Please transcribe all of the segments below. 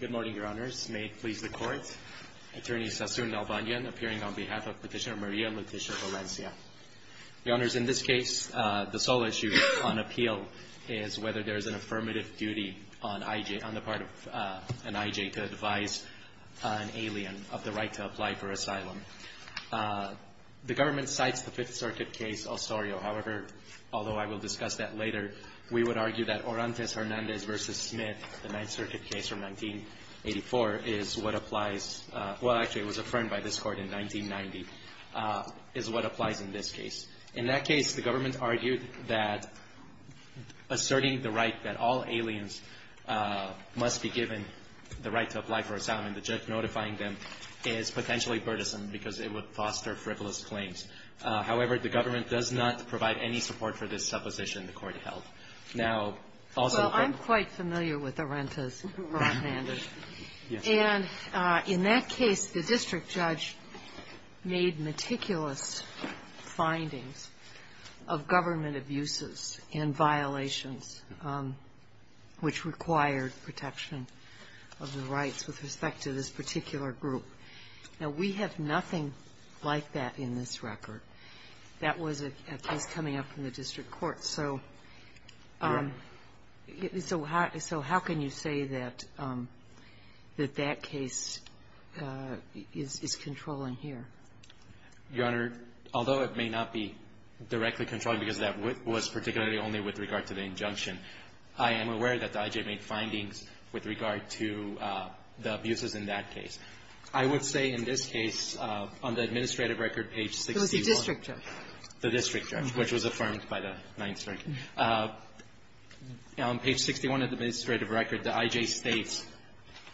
Good morning, your honors. May it please the court. Attorney Sassoon Dalbanian appearing on behalf of Petitioner Maria and Petitioner Valencia. Your honors, in this case, the sole issue on appeal is whether there is an affirmative duty on the part of an IJ to advise an alien of the right to apply for asylum. The government cites the Fifth Circuit case Osorio. However, although I will discuss that later, we would argue that Orantes-Hernandez versus Smith, the Ninth Circuit case from 1984, is what applies, well, actually, it was affirmed by this court in 1990, is what applies in this case. In that case, the government argued that asserting the right that all aliens must be given the right to apply for asylum and the judge notifying them is potentially burdensome because it would foster frivolous claims. However, the government does not provide any support for this supposition the court held. Now, also- I'm quite familiar with Orantes-Hernandez. Yes. And in that case, the district judge made meticulous findings of government abuses and violations which required protection of the rights with respect to this particular group. Now, we have nothing like that in this record. That was a case coming up in the district court. So- Your Honor? So how can you say that that case is controlling here? Your Honor, although it may not be directly controlling because that was particularly only with regard to the injunction, I am aware that the I.J. made findings with regard to the abuses in that case. I would say in this case, on the administrative record, page 61- It was the district judge. The district judge, which was affirmed by the Ninth Circuit. On page 61 of the administrative record, the I.J. states-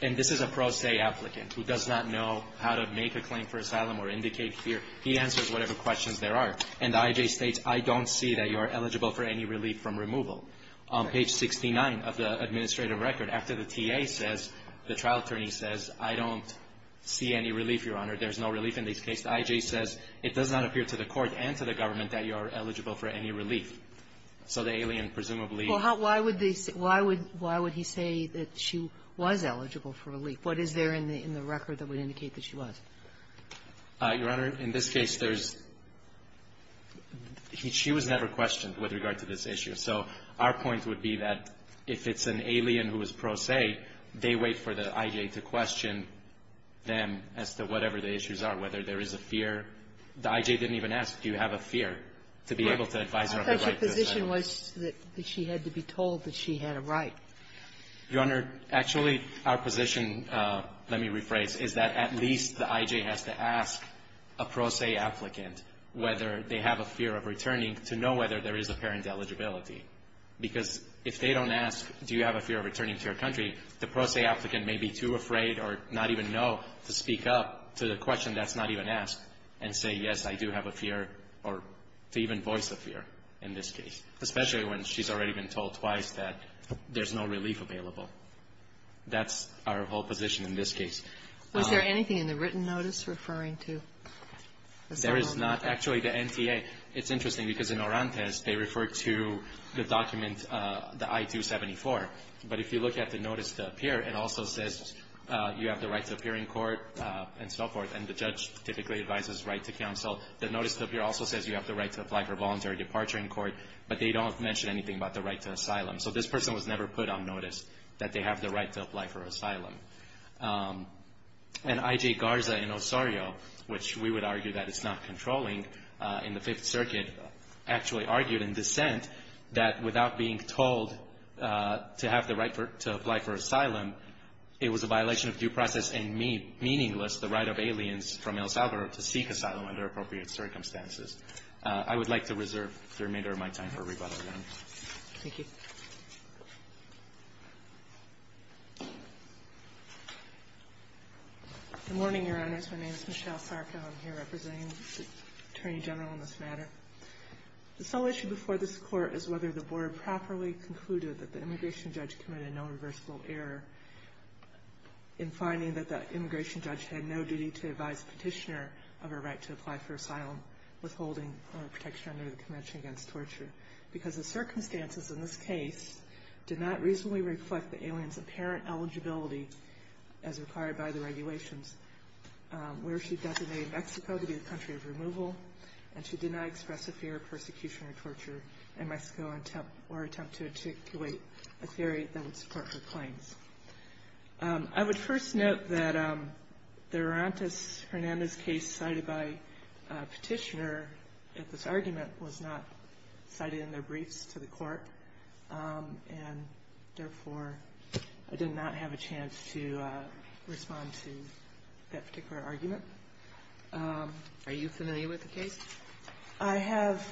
and this is a pro se applicant who does not know how to make a claim for asylum or indicate fear. He answers whatever questions there are. And the I.J. states, I don't see that you are eligible for any relief from removal. On page 69 of the administrative record, after the T.A. says- the trial attorney says, I don't see any relief, Your Honor. There's no relief in this case. The I.J. says, it does not appear to the court and to the government that you are eligible for any relief. So the alien presumably- Well, how why would they say- why would he say that she was eligible for relief? What is there in the record that would indicate that she was? Your Honor, in this case, there's- she was never questioned with regard to this issue. So our point would be that if it's an alien who is pro se, they wait for the I.J. to question them as to whatever the issues are, whether there is a fear. The I.J. didn't even ask, do you have a fear, to be able to advise her of the right to asylum. But the position was that she had to be told that she had a right. Your Honor, actually, our position, let me rephrase, is that at least the I.J. has to ask a pro se applicant whether they have a fear of returning to know whether there is apparent eligibility. Because if they don't ask, do you have a fear of returning to your country, the pro se applicant may be too afraid or not even know to speak up to the question that's not even asked and say, yes, I do have a fear, or to even voice the fear in this case, especially when she's already been told twice that there's no relief available. That's our whole position in this case. Was there anything in the written notice referring to the settlement? There is not. Actually, the NTA, it's interesting because in Orantes, they refer to the document, the I-274. But if you look at the notice to appear, it also says you have the right to appear in court and so forth. And the judge typically advises right to counsel. The notice to appear also says you have the right to apply for voluntary departure in court, but they don't mention anything about the right to asylum. So this person was never put on notice that they have the right to apply for asylum. And I.J. Garza in Osorio, which we would argue that it's not controlling in the Fifth Circuit, actually argued in dissent that without being told to have the right to apply for asylum, it was a violation of due process and meaningless, the right of aliens from other appropriate circumstances. I would like to reserve the remainder of my time for rebuttal, Your Honor. Thank you. Good morning, Your Honors. My name is Michelle Sarko. I'm here representing the Attorney General on this matter. The sole issue before this Court is whether the Board properly concluded that the immigration judge committed no reversible error in finding that the immigration judge had no duty to apply for asylum, withholding protection under the Convention Against Torture, because the circumstances in this case did not reasonably reflect the alien's apparent eligibility as required by the regulations where she designated Mexico to be the country of removal, and she did not express a fear of persecution or torture in Mexico or attempt to articulate a theory that would support her claims. I would first note that the Hernandez case cited by Petitioner at this argument was not cited in their briefs to the Court, and therefore, I did not have a chance to respond to that particular argument. Are you familiar with the case? I have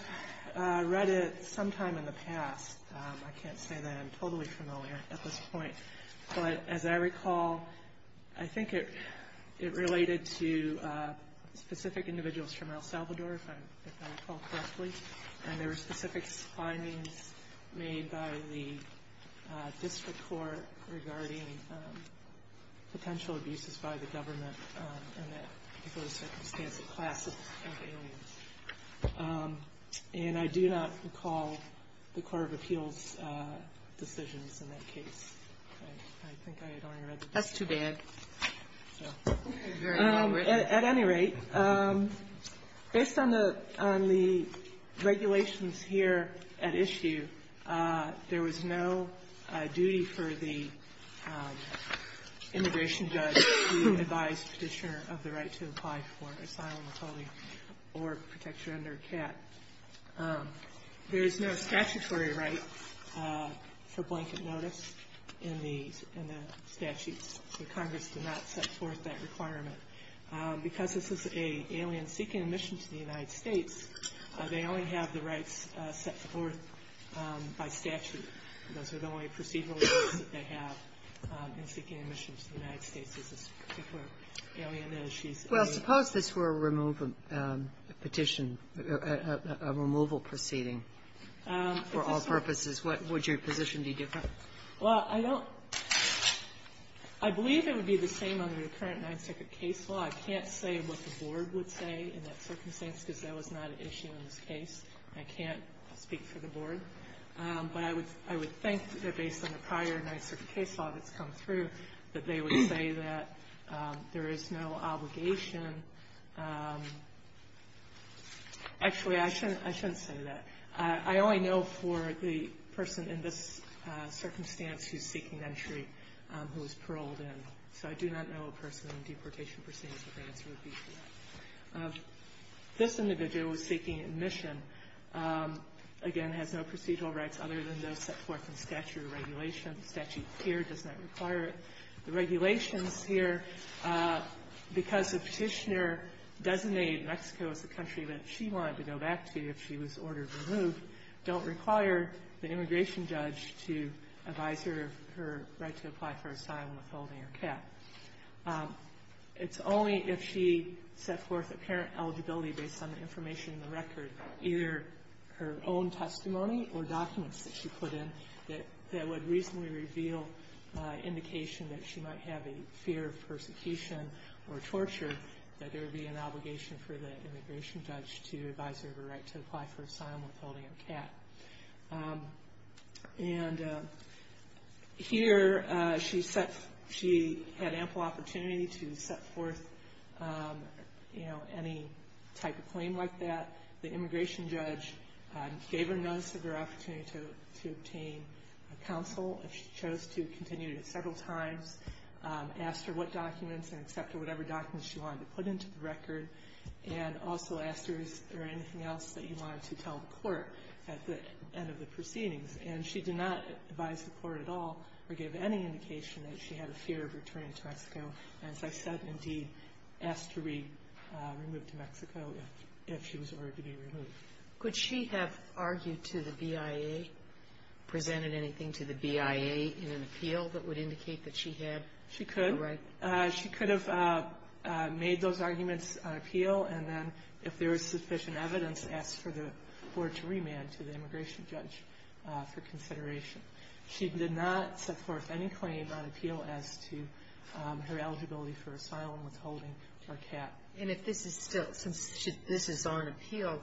read it sometime in the past. I can't say that I'm totally familiar at this point. But as I recall, I think it related to specific individuals from El Salvador, if I recall correctly, and there were specific findings made by the District Court regarding potential abuses by the government in that circumstance of class of aliens. And I do not recall the Court of Appeals' decisions in that case. That's too bad. At any rate, based on the regulations here at issue, there was no duty for the immigration judge to advise Petitioner of the right to apply for asylum, asylum or protection under CAT. There is no statutory right for blanket notice in the statutes. The Congress did not set forth that requirement. Because this is an alien seeking admission to the United States, they only have the rights set forth by statute. Those are the only procedural rights that they have in seeking admission to the United States. This is a particular alien, and she's an alien. Suppose this were a removal petition, a removal proceeding for all purposes, would your position be different? Well, I don't – I believe it would be the same under the current Ninth Circuit case law. I can't say what the Board would say in that circumstance, because that was not an issue in this case. I can't speak for the Board. But I would think that based on the prior Ninth Circuit case law that's come through, that they would say that there is no obligation. Actually, I shouldn't say that. I only know for the person in this circumstance who's seeking entry who was paroled in. So I do not know a person in a deportation proceeding with an answer would be different. This individual who's seeking admission, again, has no procedural rights other than those set forth in statutory regulation. The statute here does not require it. The regulations here, because the Petitioner designated Mexico as the country that she wanted to go back to if she was ordered to move, don't require the immigration judge to advise her of her right to apply for asylum withholding her cap. It's only if she set forth apparent eligibility based on the information in the record, either her own testimony or documents that she put in, that would reasonably reveal indication that she might have a fear of persecution or torture, that there would be an obligation for the immigration judge to advise her of her right to apply for asylum withholding her cap. And here, she had ample opportunity to set forth any type of claim like that. The immigration judge gave her notice of her opportunity to obtain counsel if she chose to continue to several times, asked her what documents and accepted whatever documents she wanted to put into the record, and also asked her, is there anything else that you wanted to tell the court at the end of the proceedings? And she did not advise the court at all or give any indication that she had a fear of returning to Mexico. And as I said, indeed, asked to be removed to Mexico if she was ordered to be removed. Sotomayor Could she have argued to the BIA, presented anything to the BIA in an appeal that would indicate that she had the right? Kagan She could. She could have made those arguments on appeal, and then, if there was sufficient evidence, asked for the court to remand to the immigration judge for consideration. She did not set forth any claim on appeal as to her eligibility for asylum withholding or cap. Sotomayor And if this is still, since this is on appeal,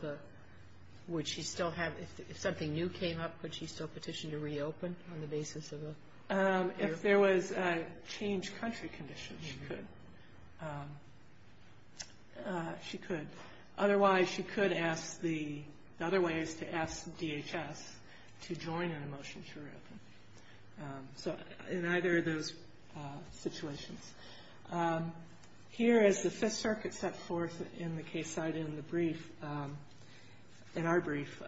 would she still have, if something new came up, would she still petition to reopen on the basis of a? Kagan If there was a changed country condition, she could. She could. Otherwise, she could ask the other ways to ask DHS to join in a motion to reopen. So in either of those situations. Here is the Fifth Circuit set forth in the case cited in the brief, in our brief.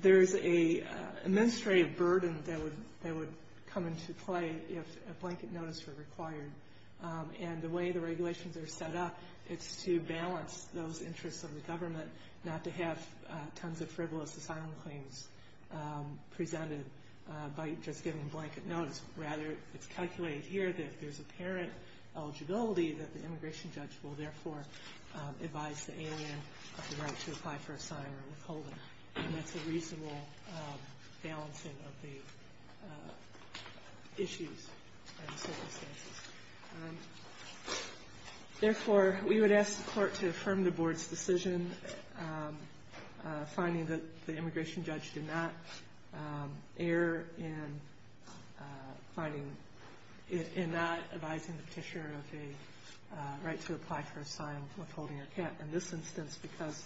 There's a administrative burden that would come into play if a blanket notice were required. And the way the regulations are set up, it's to balance those interests of the government, not to have tons of frivolous asylum claims presented by just giving blanket notice. Rather, it's calculated here that if there's apparent eligibility, that the immigration judge will therefore advise the alien of the right to apply for asylum withholding. And that's a reasonable balancing of the issues and circumstances. And therefore, we would ask the court to affirm the board's decision, finding that the immigration judge did not err in finding, in not advising the petitioner of a right to apply for asylum withholding or cap. In this instance, because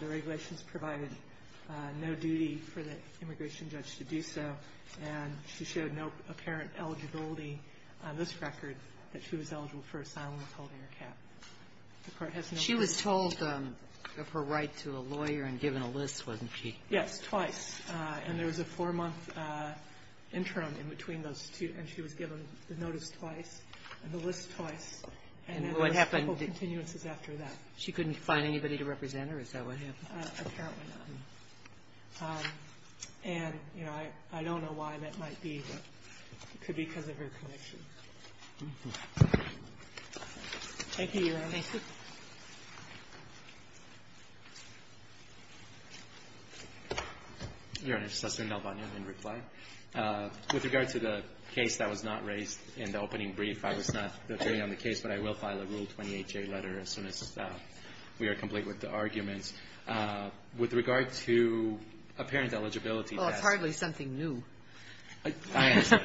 the regulations provided no duty for the immigration judge to do so, and she showed no apparent eligibility on this record, that she was eligible for asylum withholding or cap. The court has no evidence. Sotomayor, she was told of her right to a lawyer and given a list, wasn't she? Yes, twice. And there was a four-month interim in between those two. And she was given the notice twice and the list twice. And what happened? And there were several continuances after that. She couldn't find anybody to represent her? Is that what happened? Apparently not. And, you know, I don't know why that might be, but it could be because of her connection. Thank you, Your Honor. Thank you. Your Honor, Justice Del Valle, in reply. With regard to the case that was not raised in the opening brief, I was not the attorney on the case, but I will file a Rule 28J letter as soon as we are complete with the arguments. With regard to apparent eligibility. Well, it's hardly something new. I understand.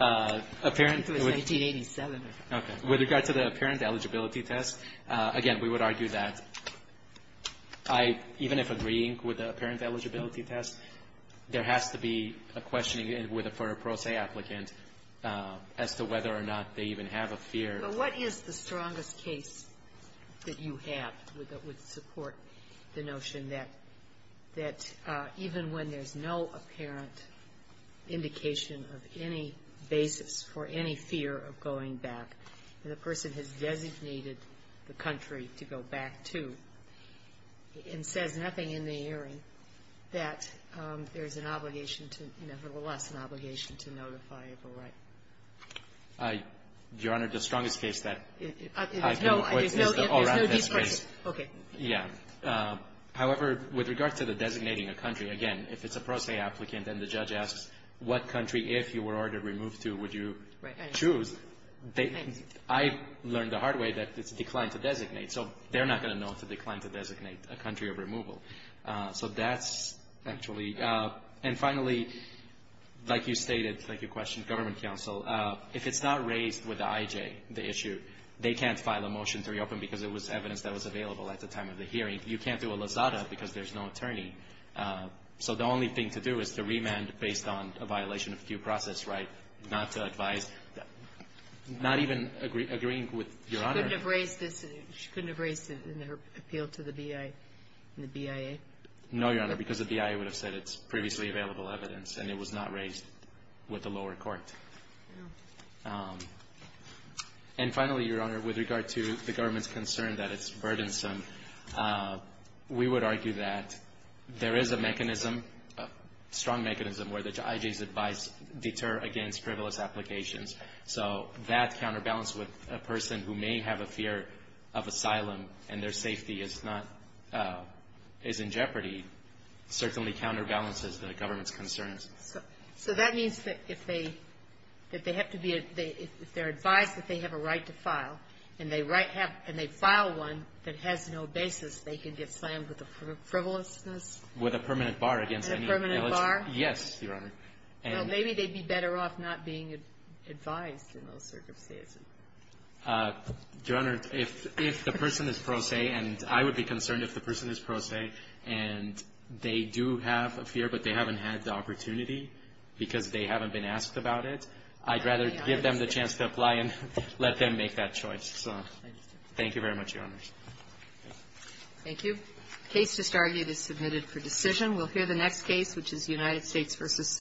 Apparent. It was 1987. Okay. With regard to the apparent eligibility test, again, we would argue that I, even if agreeing with the apparent eligibility test, there has to be a questioning for a pro se applicant as to whether or not they even have a fear. But what is the strongest case that you have that would support the notion that even when there's no apparent indication of any basis for any fear of going back, and the person has designated the country to go back to and says nothing in the hearing, that there's an obligation to, nevertheless, an obligation to notify of a right? Your Honor, the strongest case that I can put is the O'Rourke test case. Okay. Yeah. However, with regard to the designating a country, again, if it's a pro se applicant and the judge asks what country, if you were ordered removed to, would you choose, I learned the hard way that it's a decline to designate. So they're not going to know it's a decline to designate a country of removal. So that's actually, and finally, like you stated, like you questioned government counsel, if it's not raised with the IJ, the issue, they can't file a motion to reopen because it was evidence that was available at the time of the hearing. You can't do a lazada because there's no attorney. So the only thing to do is to remand based on a violation of due process, right? Not to advise, not even agreeing with Your Honor. She couldn't have raised it in her appeal to the BIA and the BIA? No, Your Honor, because the BIA would have said it's previously available evidence and it was not raised with the lower court. And finally, Your Honor, with regard to the government's concern that it's burdensome, we would argue that there is a mechanism, a strong mechanism where the IJ's advice deter against frivolous applications. So that counterbalance with a person who may have a fear of asylum and their safety is not, is in jeopardy, certainly counterbalances the government's concerns. So that means that if they have to be, if they're advised that they have a right to file, and they right have, and they file one that has no basis, they can get slammed with a frivolousness? With a permanent bar against any illegitimate. With a permanent bar? Yes, Your Honor. Well, maybe they'd be better off not being advised in those circumstances. Your Honor, if the person is pro se, and I would be concerned if the person is pro se, and they do have a fear, but they haven't had the opportunity because they haven't been asked about it, I'd rather give them the chance to apply and let them make that choice. So thank you very much, Your Honor. Thank you. The case just argued is submitted for decision. We'll hear the next case, which is United States v.